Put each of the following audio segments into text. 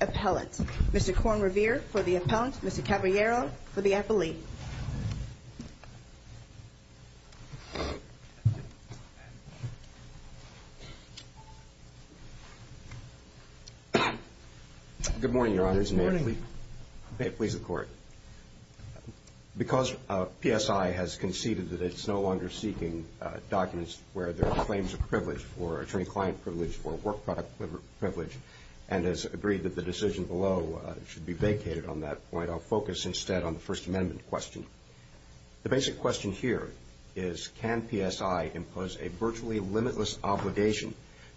Appellant, Mr. Corn Revere for the Appellant, Mr. Caballero for the Appellee. Good morning, Your Honor. Good morning. May it please the Court, because P.S. P.S.I. has conceded that it's no longer seeking documents where there are claims of privilege for attorney-client privilege or work product privilege, and has agreed that the decision below should be vacated on that point. I'll focus instead on the First Amendment question. The basic question here is, can P.S.I. impose a virtually limitless obligation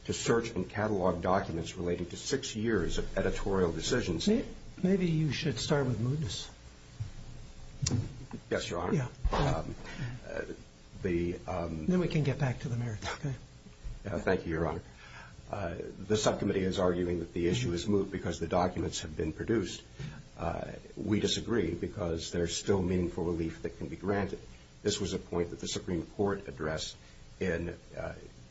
to search and catalog documents relating to six years of editorial decisions? Maybe you should start with mootness. Yes, Your Honor. Then we can get back to the merits, okay? Thank you, Your Honor. The Subcommittee is arguing that the issue is moot because the documents have been produced. We disagree because there's still meaningful relief that can be granted. This was a point that the Supreme Court addressed in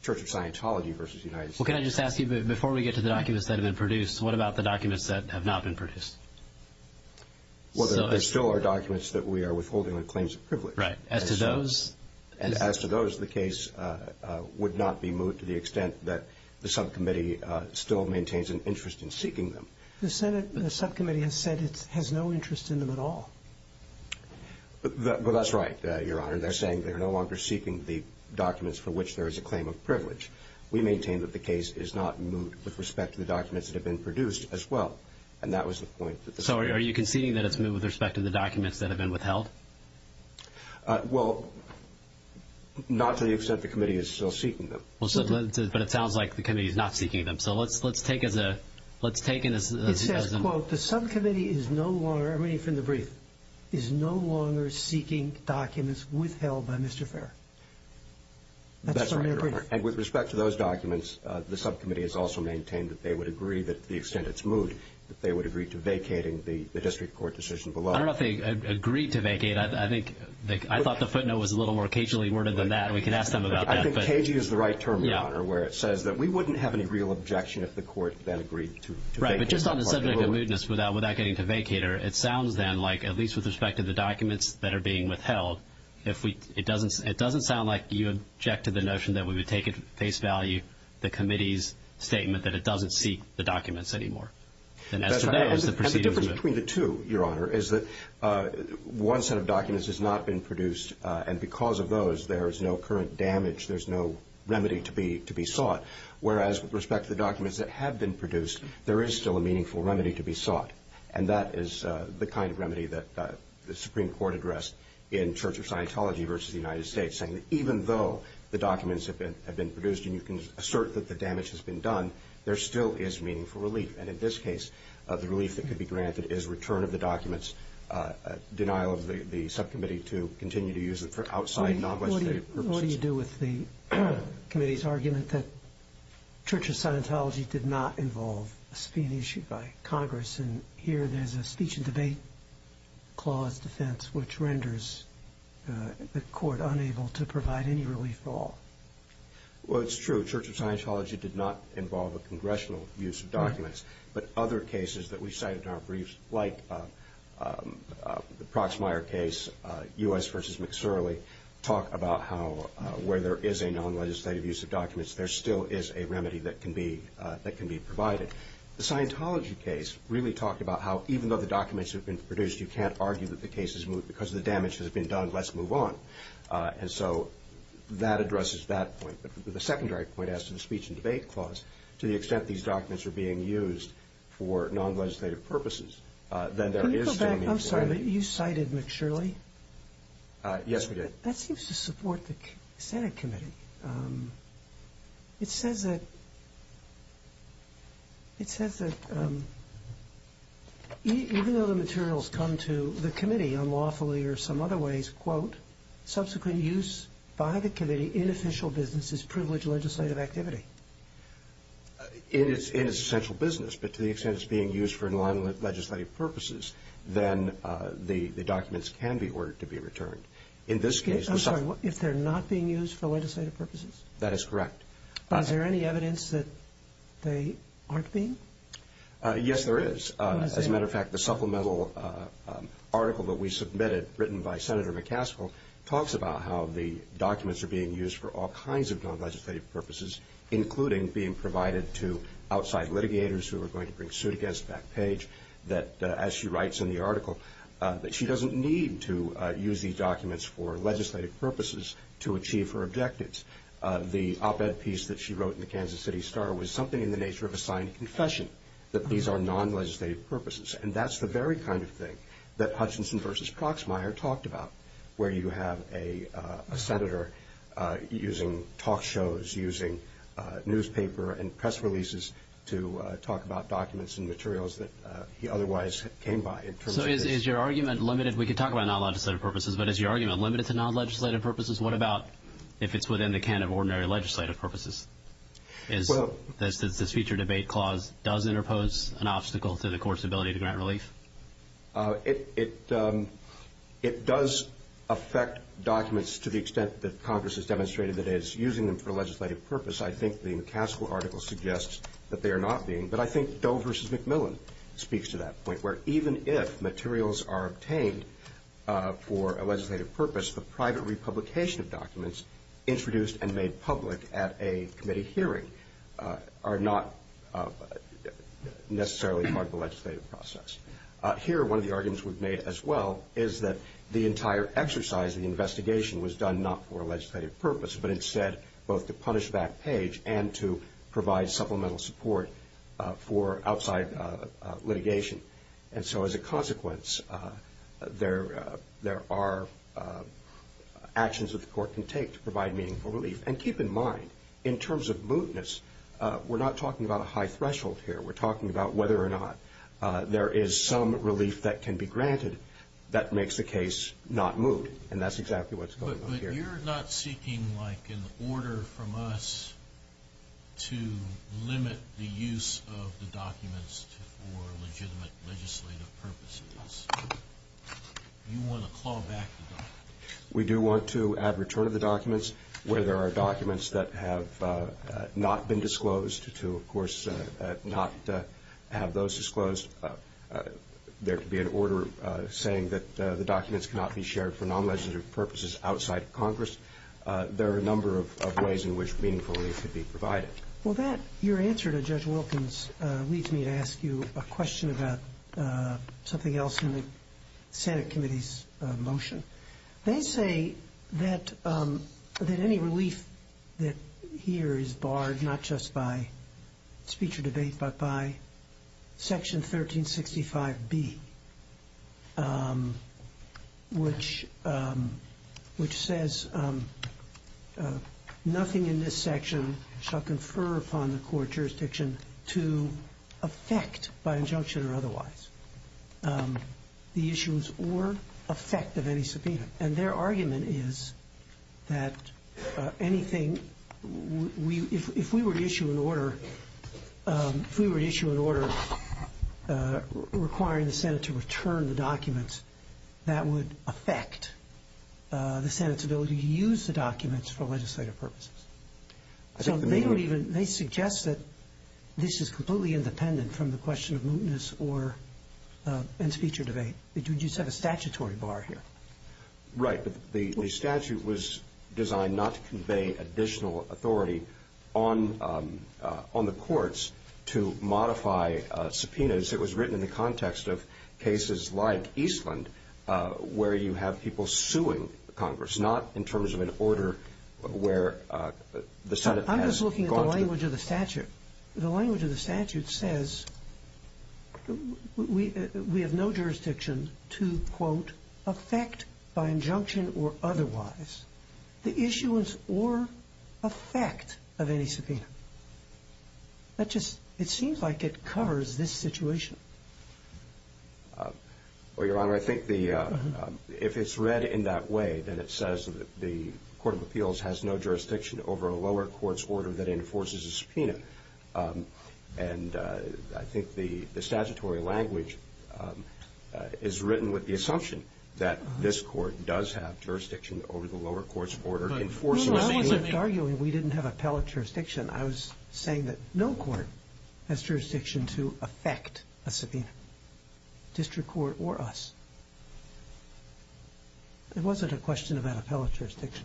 Church of Scientology v. United States. Can I just ask you, before we get to the documents that have been produced, what about the documents that have not been produced? There still are documents that we are withholding on claims of privilege. Right. As to those? As to those, the case would not be moot to the extent that the Subcommittee still maintains an interest in seeking them. The Subcommittee has said it has no interest in them at all. That's right, Your Honor. They're saying they're no longer seeking the documents for which there is a claim of privilege. We maintain that the case is not moot with respect to the documents that have been produced as well. And that was the point. So are you conceding that it's moot with respect to the documents that have been withheld? Well, not to the extent the Committee is still seeking them. But it sounds like the Committee is not seeking them. So let's take it as a— It says, quote, the Subcommittee is no longer—I mean, from the brief—is no longer seeking documents withheld by Mr. Farrar. That's right, Your Honor. And with respect to those documents, the Subcommittee has also maintained that they would agree, to the extent it's moot, that they would agree to vacating the district court decision below. I don't know if they agreed to vacate. I think—I thought the footnote was a little more occasionally worded than that. We can ask them about that. I think cagey is the right term, Your Honor, where it says that we wouldn't have any real objection if the court then agreed to vacate. Right, but just on the subject of mootness without getting to vacater, it sounds then like, at least with respect to the documents that are being withheld, if we—it doesn't—it doesn't sound like you object to the notion that we would take at face value the Committee's statement that it doesn't seek the documents anymore. And as to those, the proceedings— That's right. And the difference between the two, Your Honor, is that one set of documents has not been produced. And because of those, there is no current damage. There's no remedy to be sought. Whereas, with respect to the documents that have been produced, there is still a meaningful remedy to be sought. And that is the kind of remedy that the Supreme Court addressed in Church of Scientology versus the United States, saying that even though the documents have been produced and you can assert that the damage has been done, there still is meaningful relief. And in this case, the relief that could be granted is return of the documents, denial of the subcommittee to continue to use them for outside, non-legislative purposes. What do you do with the Committee's argument that Church of Scientology did not involve a subpoena issued by Congress? And here there's a speech and debate clause defense, which renders the Court unable to provide any relief at all. Well, it's true. Church of Scientology did not involve a congressional use of documents. But other cases that we cited in our briefs, like the Proxmire case, U.S. v. McSurley, talk about how where there is a non-legislative use of documents, there still is a remedy that can be provided. The Scientology case really talked about how even though the documents have been produced, you can't argue that the case has moved because the damage has been done. Let's move on. And so that addresses that point. But the secondary point as to the speech and debate clause, to the extent these documents are being used for non-legislative purposes, then there is still meaningful relief. Can you go back? I'm sorry, but you cited McSurley? Yes, we did. That seems to support the Senate committee. It says that even though the materials come to the committee unlawfully or some other ways, quote, subsequent use by the committee in official business is privileged legislative activity. It is essential business, but to the extent it's being used for non-legislative purposes, then the documents can be ordered to be returned. I'm sorry, if they're not being used for legislative purposes? That is correct. Is there any evidence that they aren't being? Yes, there is. As a matter of fact, the supplemental article that we submitted, written by Senator McCaskill, talks about how the documents are being used for all kinds of non-legislative purposes, including being provided to outside litigators who are going to bring suit against Backpage, that as she writes in the article, that she doesn't need to use these documents for legislative purposes to achieve her objectives. The op-ed piece that she wrote in the Kansas City Star was something in the nature of a signed confession, that these are non-legislative purposes. And that's the very kind of thing that Hutchinson v. Proxmire talked about, where you have a senator using talk shows, using newspaper and press releases to talk about documents and materials that he otherwise came by. So is your argument limited? We could talk about non-legislative purposes, but is your argument limited to non-legislative purposes? What about if it's within the can of ordinary legislative purposes? Does this future debate clause interpose an obstacle to the Court's ability to grant relief? It does affect documents to the extent that Congress has demonstrated that it is using them for legislative purpose. I think the McCaskill article suggests that they are not being, but I think Doe v. McMillan speaks to that point, where even if materials are obtained for a legislative purpose, the private republication of documents introduced and made public at a committee hearing are not necessarily part of the legislative process. Here, one of the arguments we've made as well is that the entire exercise of the investigation was done not for a legislative purpose, but instead both to punish back page and to provide supplemental support for outside litigation. And so as a consequence, there are actions that the Court can take to provide meaningful relief. And keep in mind, in terms of mootness, we're not talking about a high threshold here. We're talking about whether or not there is some relief that can be granted that makes the case not moot, and that's exactly what's going on here. You're not seeking, like, an order from us to limit the use of the documents for legitimate legislative purposes. You want to claw back the documents. We do want to add return of the documents. Where there are documents that have not been disclosed, to of course not have those disclosed, there could be an order saying that the documents cannot be shared for non-legislative purposes outside Congress. There are a number of ways in which meaningful relief could be provided. Well, your answer to Judge Wilkins leads me to ask you a question about something else in the Senate Committee's motion. They say that any relief that here is barred, not just by speech or debate, but by Section 1365B, which says nothing in this section shall confer upon the court jurisdiction to affect, by injunction or otherwise, the issues or effect of any subpoena. And their argument is that anything we, if we were to issue an order, if we were to issue an order requiring the Senate to return the documents, that would affect the Senate's ability to use the documents for legislative purposes. So they don't even, they suggest that this is completely independent from the question of mootness and speech or debate. You just have a statutory bar here. Right, but the statute was designed not to convey additional authority on the courts to modify subpoenas. It was written in the context of cases like Eastland, where you have people suing Congress, but it's not in terms of an order where the Senate has gone through. I'm just looking at the language of the statute. The language of the statute says we have no jurisdiction to, quote, affect, by injunction or otherwise, the issuance or effect of any subpoena. That just, it seems like it covers this situation. Well, Your Honor, I think the, if it's read in that way, then it says that the Court of Appeals has no jurisdiction over a lower court's order that enforces a subpoena. And I think the statutory language is written with the assumption that this court does have jurisdiction over the lower court's order enforcing a subpoena. No, I wasn't arguing we didn't have appellate jurisdiction. I was saying that no court has jurisdiction to affect a subpoena, district court or us. It wasn't a question of appellate jurisdiction.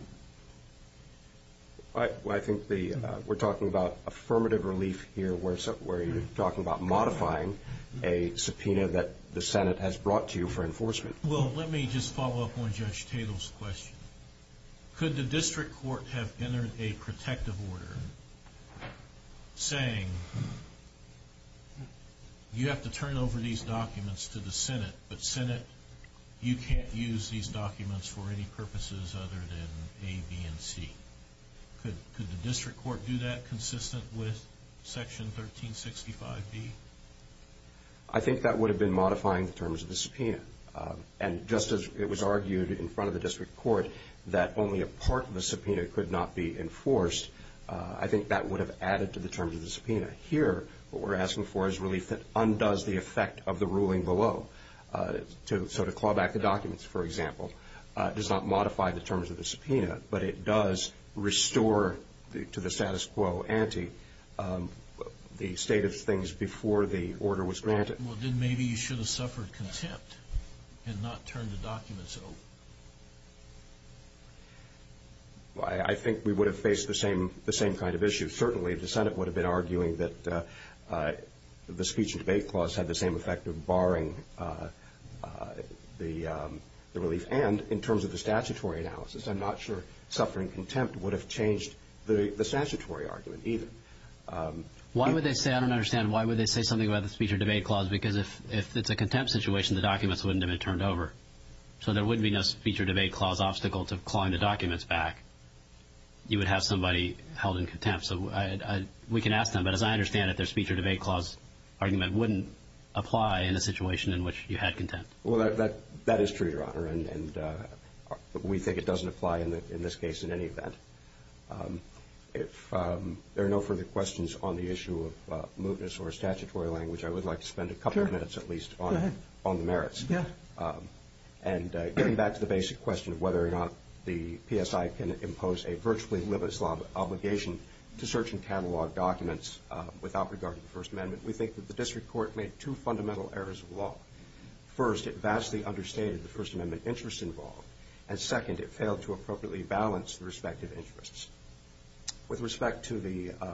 I think we're talking about affirmative relief here, where you're talking about modifying a subpoena that the Senate has brought to you for enforcement. Well, let me just follow up on Judge Tatel's question. Could the district court have entered a protective order saying you have to turn over these documents to the Senate, but Senate, you can't use these documents for any purposes other than A, B, and C? Could the district court do that consistent with Section 1365B? I think that would have been modifying the terms of the subpoena. And just as it was argued in front of the district court that only a part of the subpoena could not be enforced, I think that would have added to the terms of the subpoena. Here, what we're asking for is relief that undoes the effect of the ruling below. So to claw back the documents, for example, does not modify the terms of the subpoena, but it does restore to the status quo ante the state of things before the order was granted. Well, then maybe you should have suffered contempt and not turned the documents over. I think we would have faced the same kind of issue. Certainly, the Senate would have been arguing that the speech and debate clause had the same effect of barring the relief. And in terms of the statutory analysis, I'm not sure suffering contempt would have changed the statutory argument either. I don't understand. Why would they say something about the speech or debate clause? Because if it's a contempt situation, the documents wouldn't have been turned over. So there wouldn't be no speech or debate clause obstacle to clawing the documents back. You would have somebody held in contempt. So we can ask them, but as I understand it, their speech or debate clause argument wouldn't apply in a situation in which you had contempt. Well, that is true, Your Honor, and we think it doesn't apply in this case in any event. If there are no further questions on the issue of mootness or statutory language, I would like to spend a couple of minutes at least on the merits. Yeah. And getting back to the basic question of whether or not the PSI can impose a virtually limitless obligation to search and catalog documents without regard to the First Amendment, we think that the district court made two fundamental errors of law. First, it vastly understated the First Amendment interests involved, and second, it failed to appropriately balance the respective interests. With respect to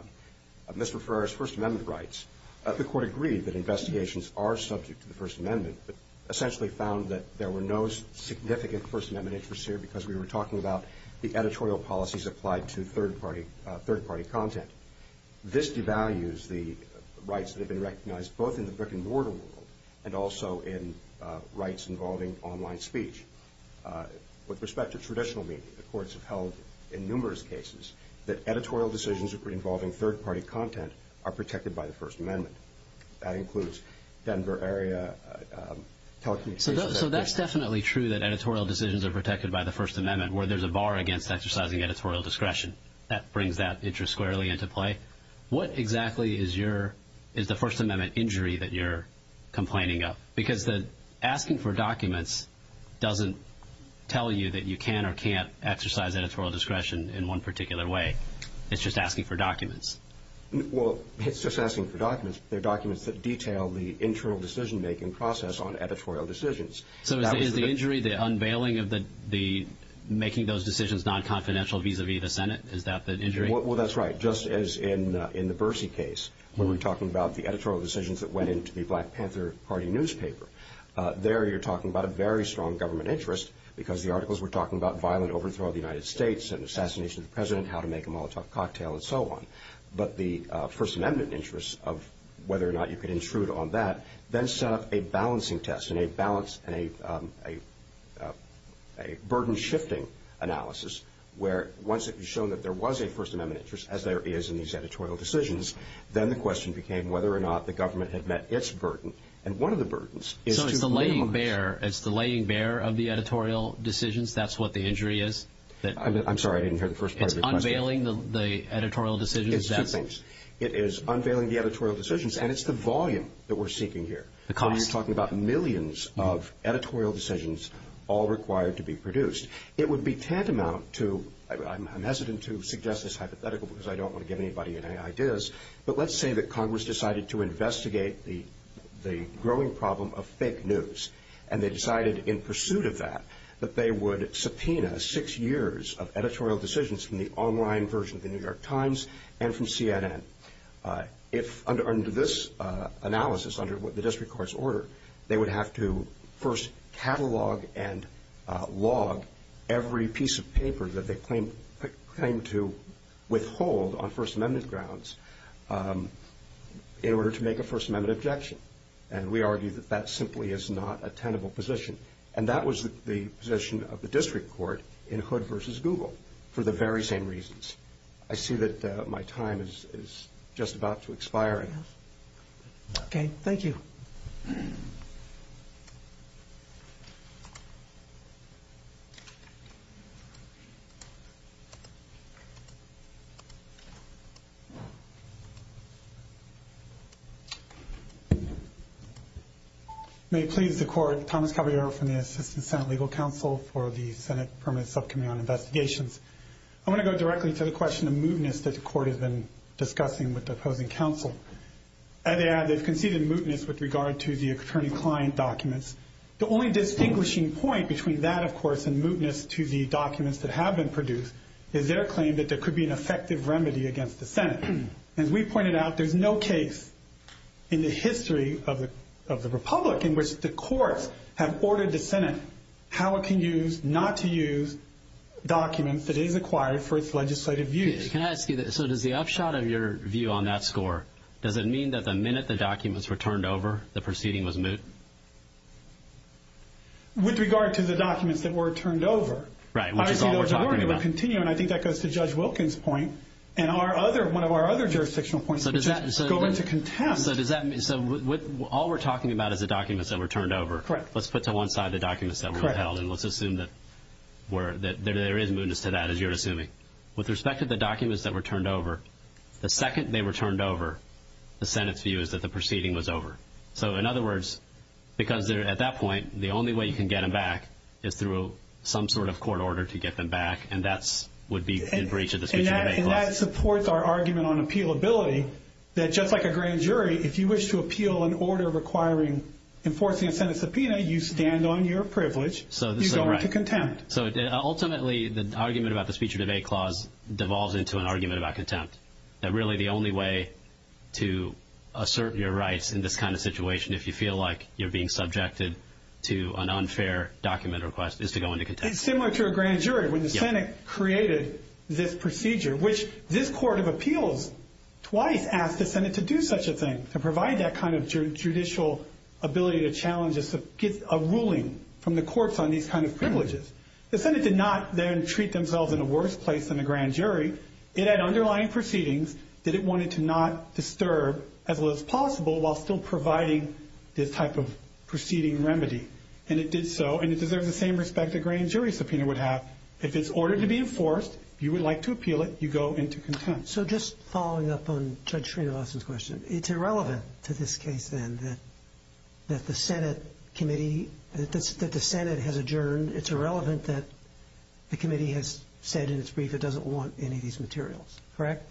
Mr. Ferrer's First Amendment rights, the court agreed that investigations are subject to the First Amendment, but essentially found that there were no significant First Amendment interests here because we were talking about the editorial policies applied to third-party content. This devalues the rights that have been recognized both in the brick-and-mortar world and also in rights involving online speech. With respect to traditional media, the courts have held in numerous cases that editorial decisions involving third-party content are protected by the First Amendment. That includes Denver area telecommunications. So that's definitely true that editorial decisions are protected by the First Amendment, where there's a bar against exercising editorial discretion. That brings that interest squarely into play. What exactly is the First Amendment injury that you're complaining of? Because asking for documents doesn't tell you that you can or can't exercise editorial discretion in one particular way. It's just asking for documents. Well, it's just asking for documents, but they're documents that detail the internal decision-making process on editorial decisions. So is the injury the unveiling of making those decisions non-confidential vis-à-vis the Senate? Is that the injury? Well, that's right. Just as in the Bercy case, when we're talking about the editorial decisions that went into the Black Panther Party newspaper, there you're talking about a very strong government interest because the articles were talking about violent overthrow of the United States and assassination of the president, how to make a Molotov cocktail, and so on. But the First Amendment interests of whether or not you could intrude on that then set up a balancing test and a burden-shifting analysis where once it was shown that there was a First Amendment interest, as there is in these editorial decisions, then the question became whether or not the government had met its burden. And one of the burdens is to lay on this. So it's the laying bare of the editorial decisions, that's what the injury is? I'm sorry, I didn't hear the first part of your question. It's unveiling the editorial decisions. It's two things. It is unveiling the editorial decisions, and it's the volume that we're seeking here. The cost. So you're talking about millions of editorial decisions all required to be produced. It would be tantamount to, I'm hesitant to suggest this hypothetical because I don't want to get anybody in any ideas, but let's say that Congress decided to investigate the growing problem of fake news, and they decided in pursuit of that that they would subpoena six years of editorial decisions from the online version of the New York Times and from CNN. Under this analysis, under the district court's order, they would have to first catalog and log every piece of paper that they claim to withhold on First Amendment grounds in order to make a First Amendment objection. And we argue that that simply is not a tenable position. And that was the position of the district court in Hood v. Google for the very same reasons. I see that my time is just about to expire. Okay. Thank you. May it please the court, Thomas Caballero from the Assistant Senate Legal Counsel for the Senate Permanent Subcommittee on Investigations. I want to go directly to the question of mootness that the court has been discussing with the opposing counsel. As they add, they've conceded mootness with regard to the attorney-client documents. The only distinguishing point between that, of course, and mootness to the documents that have been produced is their claim that there could be an effective remedy against the Senate. As we pointed out, there's no case in the history of the republic in which the courts have ordered the Senate how it can use, not to use, documents that it has acquired for its legislative views. Can I ask you this? So does the upshot of your view on that score, does it mean that the minute the documents were turned over, the proceeding was moot? With regard to the documents that were turned over. Right, which is all we're talking about. I think that goes to Judge Wilkins' point and one of our other jurisdictional points, which is going to contempt. So all we're talking about is the documents that were turned over. Correct. Let's put to one side the documents that were held, and let's assume that there is mootness to that, as you're assuming. With respect to the documents that were turned over, the second they were turned over, the Senate's view is that the proceeding was over. So in other words, because at that point, the only way you can get them back is through some sort of court order to get them back, and that would be in breach of the Speech of Debate Clause. And that supports our argument on appealability, that just like a grand jury, if you wish to appeal an order requiring enforcing a Senate subpoena, you stand on your privilege, you're going to contempt. Correct. So ultimately, the argument about the Speech of Debate Clause devolves into an argument about contempt, that really the only way to assert your rights in this kind of situation, if you feel like you're being subjected to an unfair document request, is to go into contempt. It's similar to a grand jury. When the Senate created this procedure, which this court of appeals twice asked the Senate to do such a thing, to provide that kind of judicial ability to challenge a ruling from the courts on these kind of privileges, the Senate did not then treat themselves in a worse place than the grand jury. It had underlying proceedings that it wanted to not disturb as well as possible while still providing this type of proceeding remedy. And it did so, and it deserves the same respect a grand jury subpoena would have. If it's ordered to be enforced, you would like to appeal it, you go into contempt. So just following up on Judge Srinivasan's question, it's irrelevant to this case, then, that the Senate committee, that the Senate has adjourned. It's irrelevant that the committee has said in its brief it doesn't want any of these materials. Correct?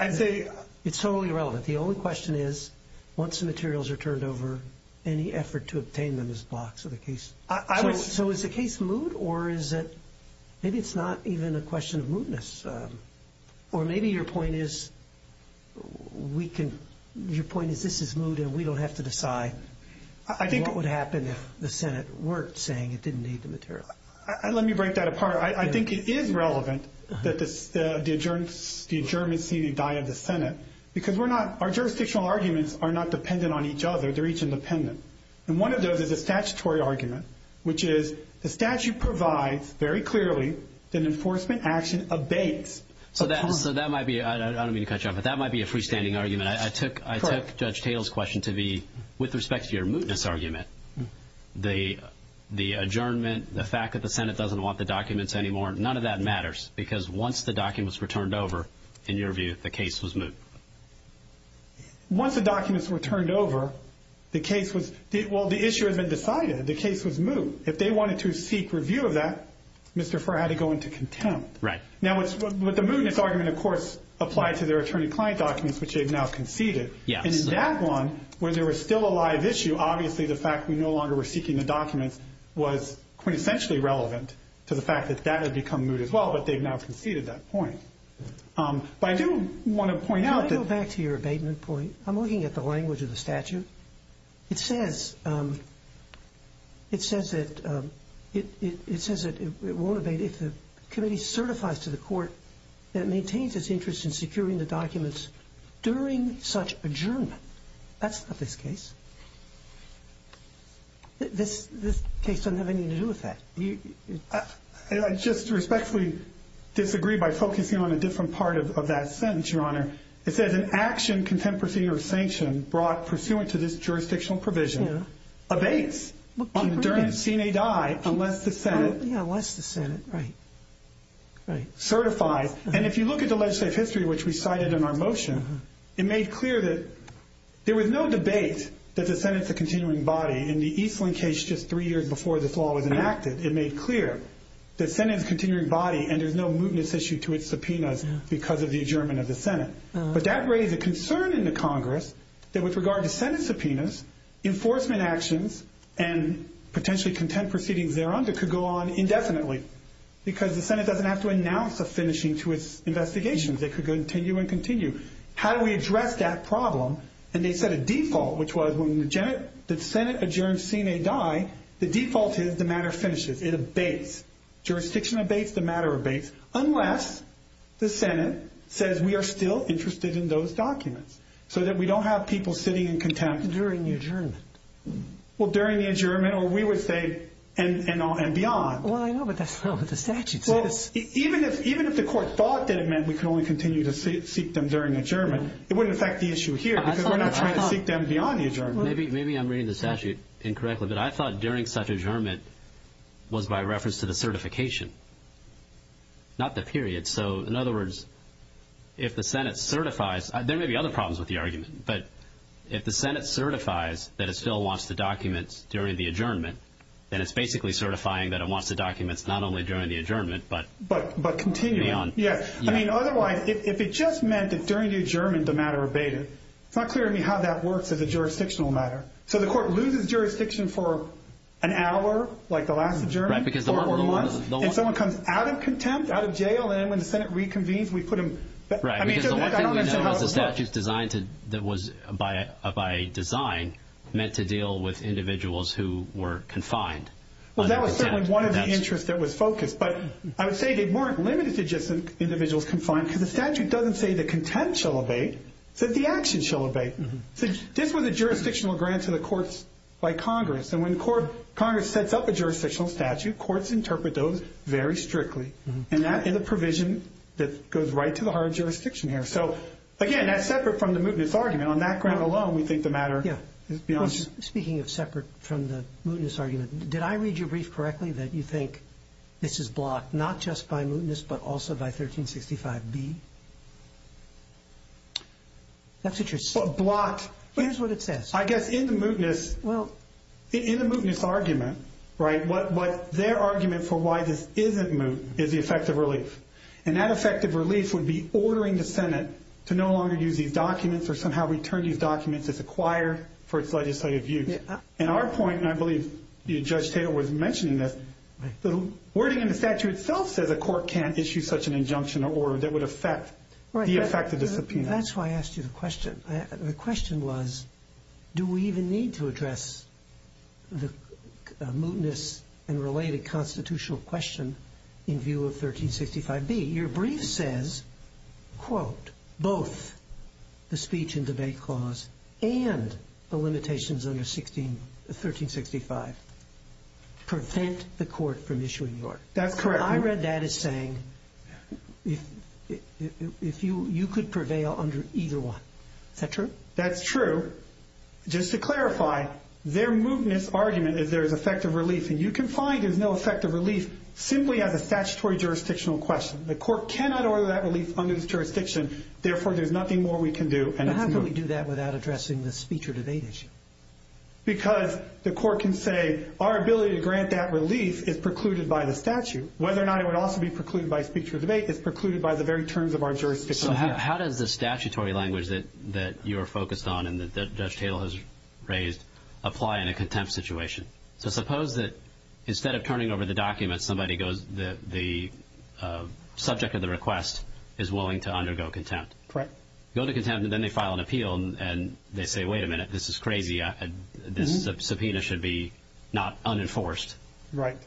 It's totally irrelevant. The only question is, once the materials are turned over, any effort to obtain them is a box of the case. So is the case moot, or is it maybe it's not even a question of mootness? Or maybe your point is we can, your point is this is moot and we don't have to decide what would happen if the Senate weren't saying it didn't need the materials. Let me break that apart. I think it is relevant that the adjournments seem to die of the Senate because we're not, our jurisdictional arguments are not dependent on each other. They're each independent. And one of those is a statutory argument, which is the statute provides very clearly that enforcement action abates. So that might be, I don't mean to cut you off, but that might be a freestanding argument. I took Judge Tatel's question to be with respect to your mootness argument. The adjournment, the fact that the Senate doesn't want the documents anymore, none of that matters because once the documents were turned over, in your view, the case was moot. Once the documents were turned over, the case was, well, the issue had been decided. The case was moot. If they wanted to seek review of that, Mr. Farr had to go into contempt. Right. Now, with the mootness argument, of course, applied to their attorney-client documents, which they've now conceded. Yes. And in that one, where there was still a live issue, obviously the fact we no longer were seeking the documents was quintessentially relevant to the fact that that had become moot as well, but they've now conceded that point. But I do want to point out that – Can I go back to your abatement point? I'm looking at the language of the statute. It says that it won't abate if the committee certifies to the court that it maintains its interest in securing the documents during such adjournment. That's not this case. This case doesn't have anything to do with that. I just respectfully disagree by focusing on a different part of that sentence, Your Honor. It says an action, contempt proceeding, or sanction brought pursuant to this jurisdictional provision abates on the terms seen a die unless the Senate certifies. And if you look at the legislative history, which we cited in our motion, it made clear that there was no debate that the Senate's a continuing body. In the Eastland case, just three years before this law was enacted, it made clear the Senate's a continuing body and there's no mootness issue to its subpoenas because of the adjournment of the Senate. But that raised a concern in the Congress that with regard to Senate subpoenas, enforcement actions and potentially contempt proceedings thereunder could go on indefinitely because the Senate doesn't have to announce a finishing to its investigations. They could continue and continue. How do we address that problem? And they set a default, which was when the Senate adjourns seen a die, the default is the matter finishes. It abates. Jurisdiction abates. The matter abates unless the Senate says we are still interested in those documents so that we don't have people sitting in contempt. During the adjournment. Well, during the adjournment or we would say and beyond. Well, I know, but that's not what the statute says. Even if the court thought that it meant we could only continue to seek them during adjournment, it wouldn't affect the issue here because we're not trying to seek them beyond the adjournment. Maybe I'm reading the statute incorrectly, but I thought during such adjournment was by reference to the certification, not the period. So, in other words, if the Senate certifies, there may be other problems with the argument, but if the Senate certifies that it still wants the documents during the adjournment, then it's basically certifying that it wants the documents not only during the adjournment but beyond. Yes. I mean, otherwise, if it just meant that during the adjournment the matter abated, it's not clear to me how that works as a jurisdictional matter. So the court loses jurisdiction for an hour, like the last adjournment, or four months, and someone comes out of contempt, out of jail, and when the Senate reconvenes, we put them back. Right, because the one thing we know is the statute's designed to – that was by design meant to deal with individuals who were confined. Well, that was certainly one of the interests that was focused, but I would say they weren't limited to just individuals confined because the statute doesn't say the contempt shall abate. It says the action shall abate. So this was a jurisdictional grant to the courts by Congress, and when Congress sets up a jurisdictional statute, courts interpret those very strictly, and that is a provision that goes right to the heart of jurisdiction here. So, again, that's separate from the mootness argument. On that ground alone, we think the matter is beyond – Speaking of separate from the mootness argument, did I read your brief correctly that you think this is blocked not just by mootness but also by 1365b? That's what you're saying. Blocked. Here's what it says. I guess in the mootness argument, right, what their argument for why this isn't moot is the effect of relief, and that effect of relief would be ordering the Senate to no longer use these documents or somehow return these documents as acquired for its legislative use. And our point, and I believe Judge Taylor was mentioning this, the wording in the statute itself says a court can't issue such an injunction or order that would affect the effect of the subpoena. That's why I asked you the question. The question was, do we even need to address the mootness and related constitutional question in view of 1365b? Your brief says, quote, both the speech and debate clause and the limitations under 1365 prevent the court from issuing the order. That's correct. What I read that as saying, you could prevail under either one. Is that true? That's true. Just to clarify, their mootness argument is there is effect of relief, and you can find there's no effect of relief simply as a statutory jurisdictional question. The court cannot order that relief under this jurisdiction. Therefore, there's nothing more we can do. But how can we do that without addressing the speech or debate issue? Because the court can say our ability to grant that relief is precluded by the statute. Whether or not it would also be precluded by speech or debate is precluded by the very terms of our jurisdiction. So how does the statutory language that you are focused on and that Judge Taylor has raised apply in a contempt situation? So suppose that instead of turning over the document, the subject of the request is willing to undergo contempt. Correct. Go to contempt, and then they file an appeal, and they say, wait a minute, this is crazy. This subpoena should be not unenforced. Right.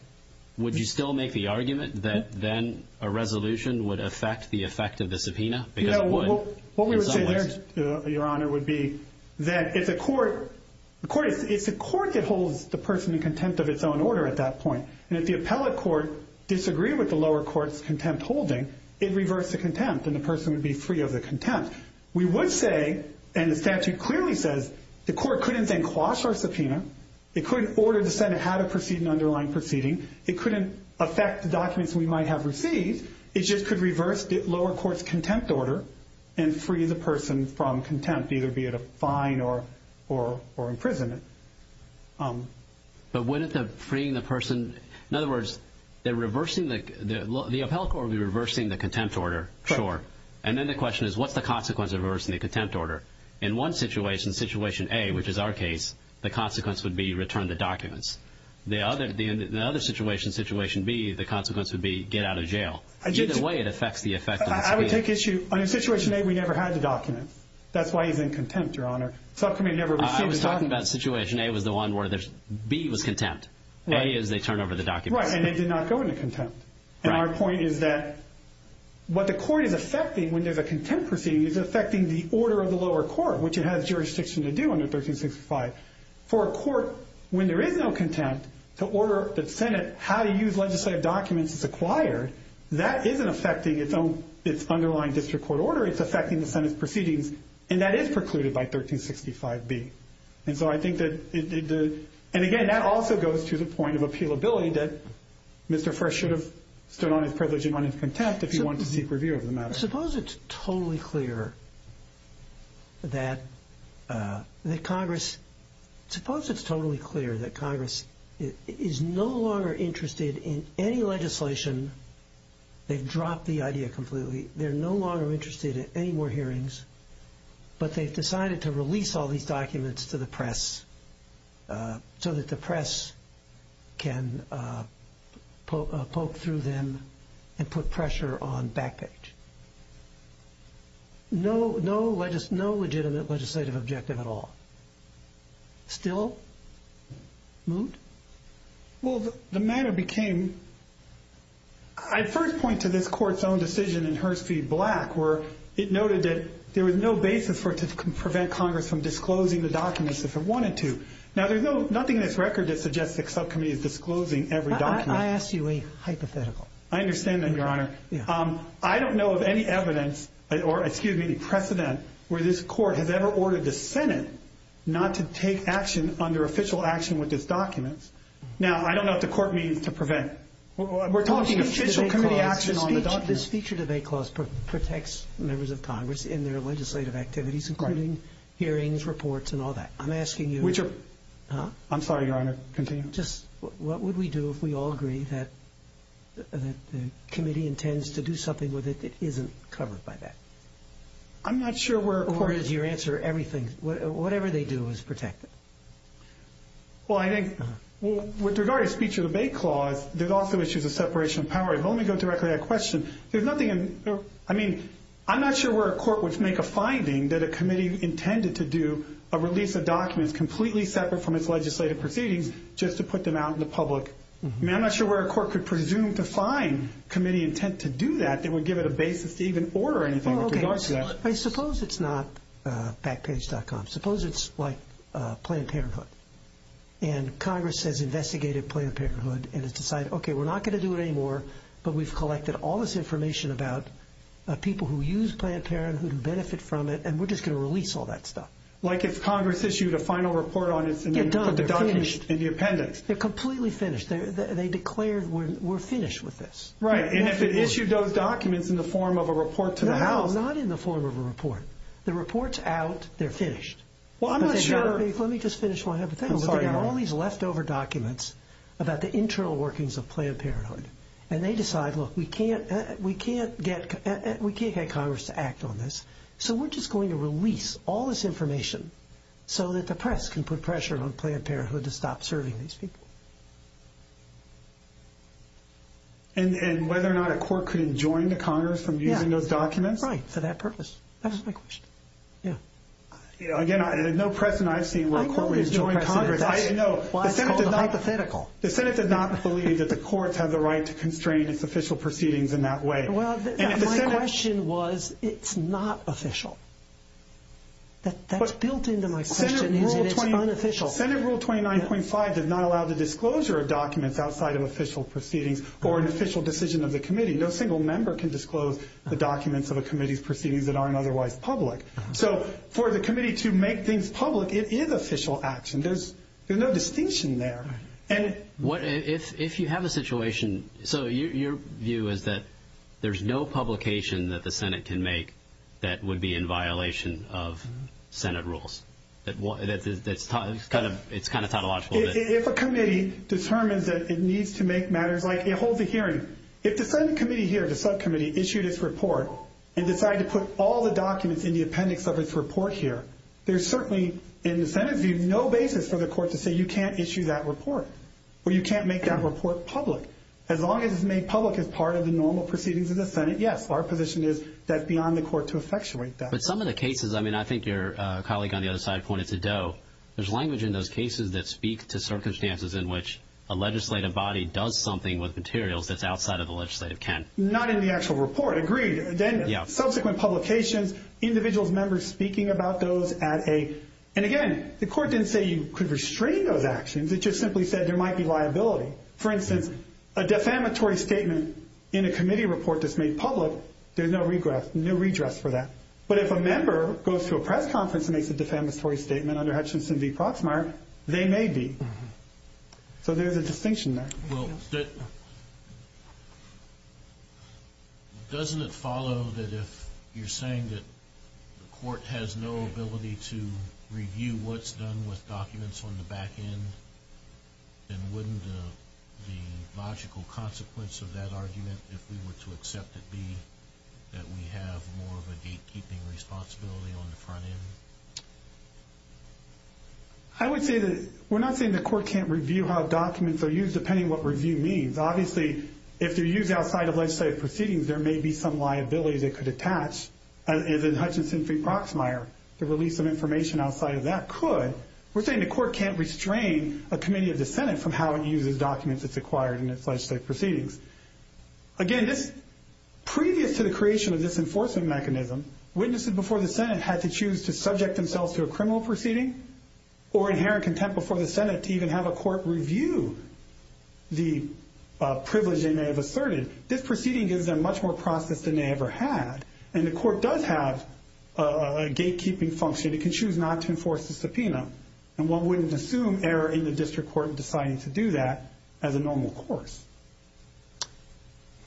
Would you still make the argument that then a resolution would affect the effect of the subpoena? Because it would. What we would say there, Your Honor, would be that it's a court that holds the person in contempt of its own order at that point. And if the appellate court disagreed with the lower court's contempt holding, it reversed the contempt, and the person would be free of the contempt. We would say, and the statute clearly says, the court couldn't then quash our subpoena. It couldn't order the Senate how to proceed an underlying proceeding. It couldn't affect the documents we might have received. It just could reverse the lower court's contempt order and free the person from contempt, either be it a fine or imprisonment. But wouldn't the freeing the person – In other words, the appellate court would be reversing the contempt order, sure. And then the question is, what's the consequence of reversing the contempt order? In one situation, situation A, which is our case, the consequence would be return the documents. The other situation, situation B, the consequence would be get out of jail. Either way, it affects the effect of the subpoena. I would take issue – on situation A, we never had the document. That's why he's in contempt, Your Honor. I was talking about situation A was the one where B was contempt. A is they turn over the documents. Right, and they did not go into contempt. And our point is that what the court is affecting when there's a contempt proceeding is affecting the order of the lower court, which it has jurisdiction to do under 1365. For a court, when there is no contempt, to order the Senate how to use legislative documents as acquired, that isn't affecting its own – its underlying district court order. It's affecting the Senate's proceedings, and that is precluded by 1365B. And so I think that – and again, that also goes to the point of appealability that Mr. First should have stood on his privilege and run in contempt if he wanted to seek review of the matter. Suppose it's totally clear that Congress – suppose it's totally clear that Congress is no longer interested in any legislation – they've dropped the idea completely. They're no longer interested in any more hearings, but they've decided to release all these documents to the press so that the press can poke through them and put pressure on back page. No legitimate legislative objective at all. Still? Moot? Well, the matter became – I first point to this court's own decision in Hurst v. Black where it noted that there was no basis for it to prevent Congress from disclosing the documents if it wanted to. Now, there's nothing in this record that suggests the subcommittee is disclosing every document. I ask you a hypothetical. I understand that, Your Honor. I don't know of any evidence – or, excuse me, any precedent – where this court has ever ordered the Senate not to take action under official action with these documents. Now, I don't know what the court means to prevent. We're talking official committee action on the documents. This feature debate clause protects members of Congress in their legislative activities, including hearings, reports, and all that. I'm asking you – I'm sorry, Your Honor. Continue. Just what would we do if we all agree that the committee intends to do something with it that isn't covered by that? I'm not sure where – Or is your answer everything – whatever they do is protected? Well, I think with regard to the feature debate clause, there's also issues of separation of power. If I may go directly to that question, there's nothing in – I mean, I'm not sure where a court would make a finding that a committee intended to do a release of documents completely separate from its legislative proceedings just to put them out in the public. I mean, I'm not sure where a court could presume to find committee intent to do that that would give it a basis to even order anything with regard to that. I suppose it's not backpage.com. Suppose it's like Planned Parenthood, and Congress has investigated Planned Parenthood and has decided, okay, we're not going to do it anymore, but we've collected all this information about people who use Planned Parenthood, who benefit from it, and we're just going to release all that stuff. Like if Congress issued a final report on its – They're done. They're finished. They're completely finished. They declared we're finished with this. Right, and if it issued those documents in the form of a report to the House – No, not in the form of a report. The report's out. They're finished. Well, I'm not sure – Let me just finish one other thing. I'm sorry, Your Honor. There are all these leftover documents about the internal workings of Planned Parenthood, and they decide, look, we can't get Congress to act on this, so we're just going to release all this information so that the press can put pressure on Planned Parenthood to stop serving these people. And whether or not a court could enjoin the Congress from using those documents? Again, there's no precedent I've seen where a court would enjoin Congress. I don't think there's a precedent. I know. Well, it's called a hypothetical. The Senate does not believe that the courts have the right to constrain its official proceedings in that way. Well, my question was it's not official. That's built into my question, is that it's unofficial. Senate Rule 29.5 does not allow the disclosure of documents outside of official proceedings or an official decision of the committee. No single member can disclose the documents of a committee's proceedings that aren't otherwise public. So for the committee to make things public, it is official action. There's no distinction there. If you have a situation, so your view is that there's no publication that the Senate can make that would be in violation of Senate rules. It's kind of tautological. If a committee determines that it needs to make matters like it holds a hearing, if the Senate committee here, the subcommittee, issued its report and decided to put all the documents in the appendix of its report here, there's certainly in the Senate's view no basis for the court to say you can't issue that report or you can't make that report public. As long as it's made public as part of the normal proceedings of the Senate, yes, our position is that's beyond the court to effectuate that. But some of the cases, I mean, I think your colleague on the other side pointed to Doe, there's language in those cases that speak to circumstances in which a legislative body does something with materials that's outside of the legislative can. Not in the actual report. Agreed. Then subsequent publications, individuals, members speaking about those at a and, again, the court didn't say you could restrain those actions. It just simply said there might be liability. For instance, a defamatory statement in a committee report that's made public, there's no redress for that. But if a member goes to a press conference and makes a defamatory statement under Hutchinson v. Proxmire, they may be. So there's a distinction there. Well, doesn't it follow that if you're saying that the court has no ability to review what's done with documents on the back end, then wouldn't the logical consequence of that argument, if we were to accept it, be that we have more of a gatekeeping responsibility on the front end? I would say that we're not saying the court can't review how documents are used, depending on what review means. Obviously, if they're used outside of legislative proceedings, there may be some liability that could attach. And in Hutchinson v. Proxmire, the release of information outside of that could. We're saying the court can't restrain a committee of the Senate from how it uses documents it's acquired in its legislative proceedings. Again, previous to the creation of this enforcement mechanism, witnesses before the Senate had to choose to subject themselves to a criminal proceeding or inherent contempt before the Senate to even have a court review the privilege they may have asserted. This proceeding gives them much more process than they ever had. And the court does have a gatekeeping function. It can choose not to enforce the subpoena. And one wouldn't assume error in the district court in deciding to do that as a normal course.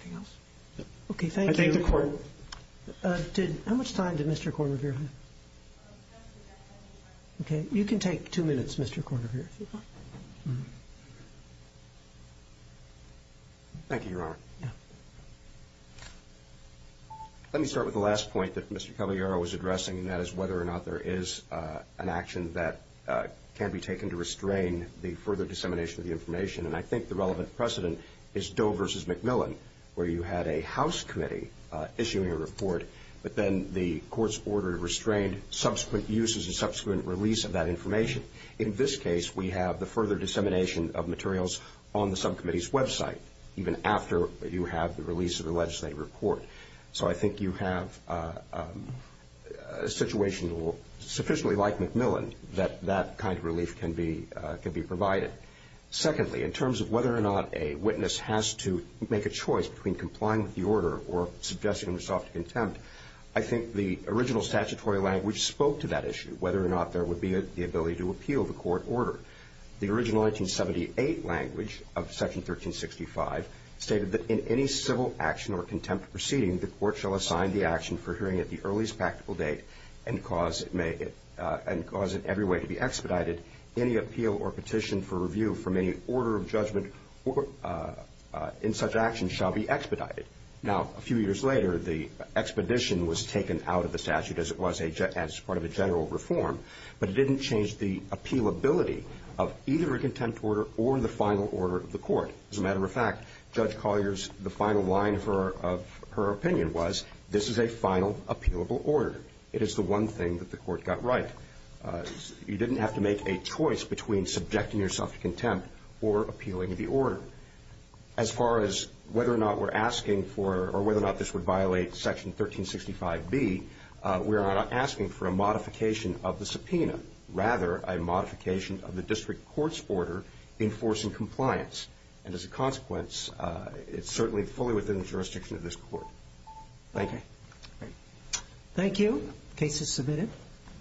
Anything else? Okay, thank you. I think the court— How much time did Mr. Corr review? Okay, you can take two minutes, Mr. Corr, here. Thank you, Your Honor. Yeah. Let me start with the last point that Mr. Cavallaro was addressing, and that is whether or not there is an action that can be taken to restrain the further dissemination of the information. And I think the relevant precedent is Doe v. McMillan, where you had a House committee issuing a report, but then the court's order to restrain subsequent uses and subsequent release of that information. In this case, we have the further dissemination of materials on the subcommittee's website, even after you have the release of the legislative report. So I think you have a situation sufficiently like McMillan that that kind of relief can be provided. Secondly, in terms of whether or not a witness has to make a choice between complying with the order or suggesting himself to contempt, I think the original statutory language spoke to that issue, whether or not there would be the ability to appeal the court order. The original 1978 language of Section 1365 stated that in any civil action or contempt proceeding, the court shall assign the action for hearing at the earliest practical date and cause it every way to be expedited. Any appeal or petition for review from any order of judgment in such action shall be expedited. Now, a few years later, the expedition was taken out of the statute as part of a general reform, but it didn't change the appealability of either a contempt order or the final order of the court. As a matter of fact, Judge Collier's final line of her opinion was, this is a final, appealable order. It is the one thing that the court got right. You didn't have to make a choice between subjecting yourself to contempt or appealing the order. As far as whether or not we're asking for or whether or not this would violate Section 1365B, we are not asking for a modification of the subpoena, rather a modification of the district court's order enforcing compliance. And as a consequence, it's certainly fully within the jurisdiction of this court. Thank you. Thank you. Case is submitted.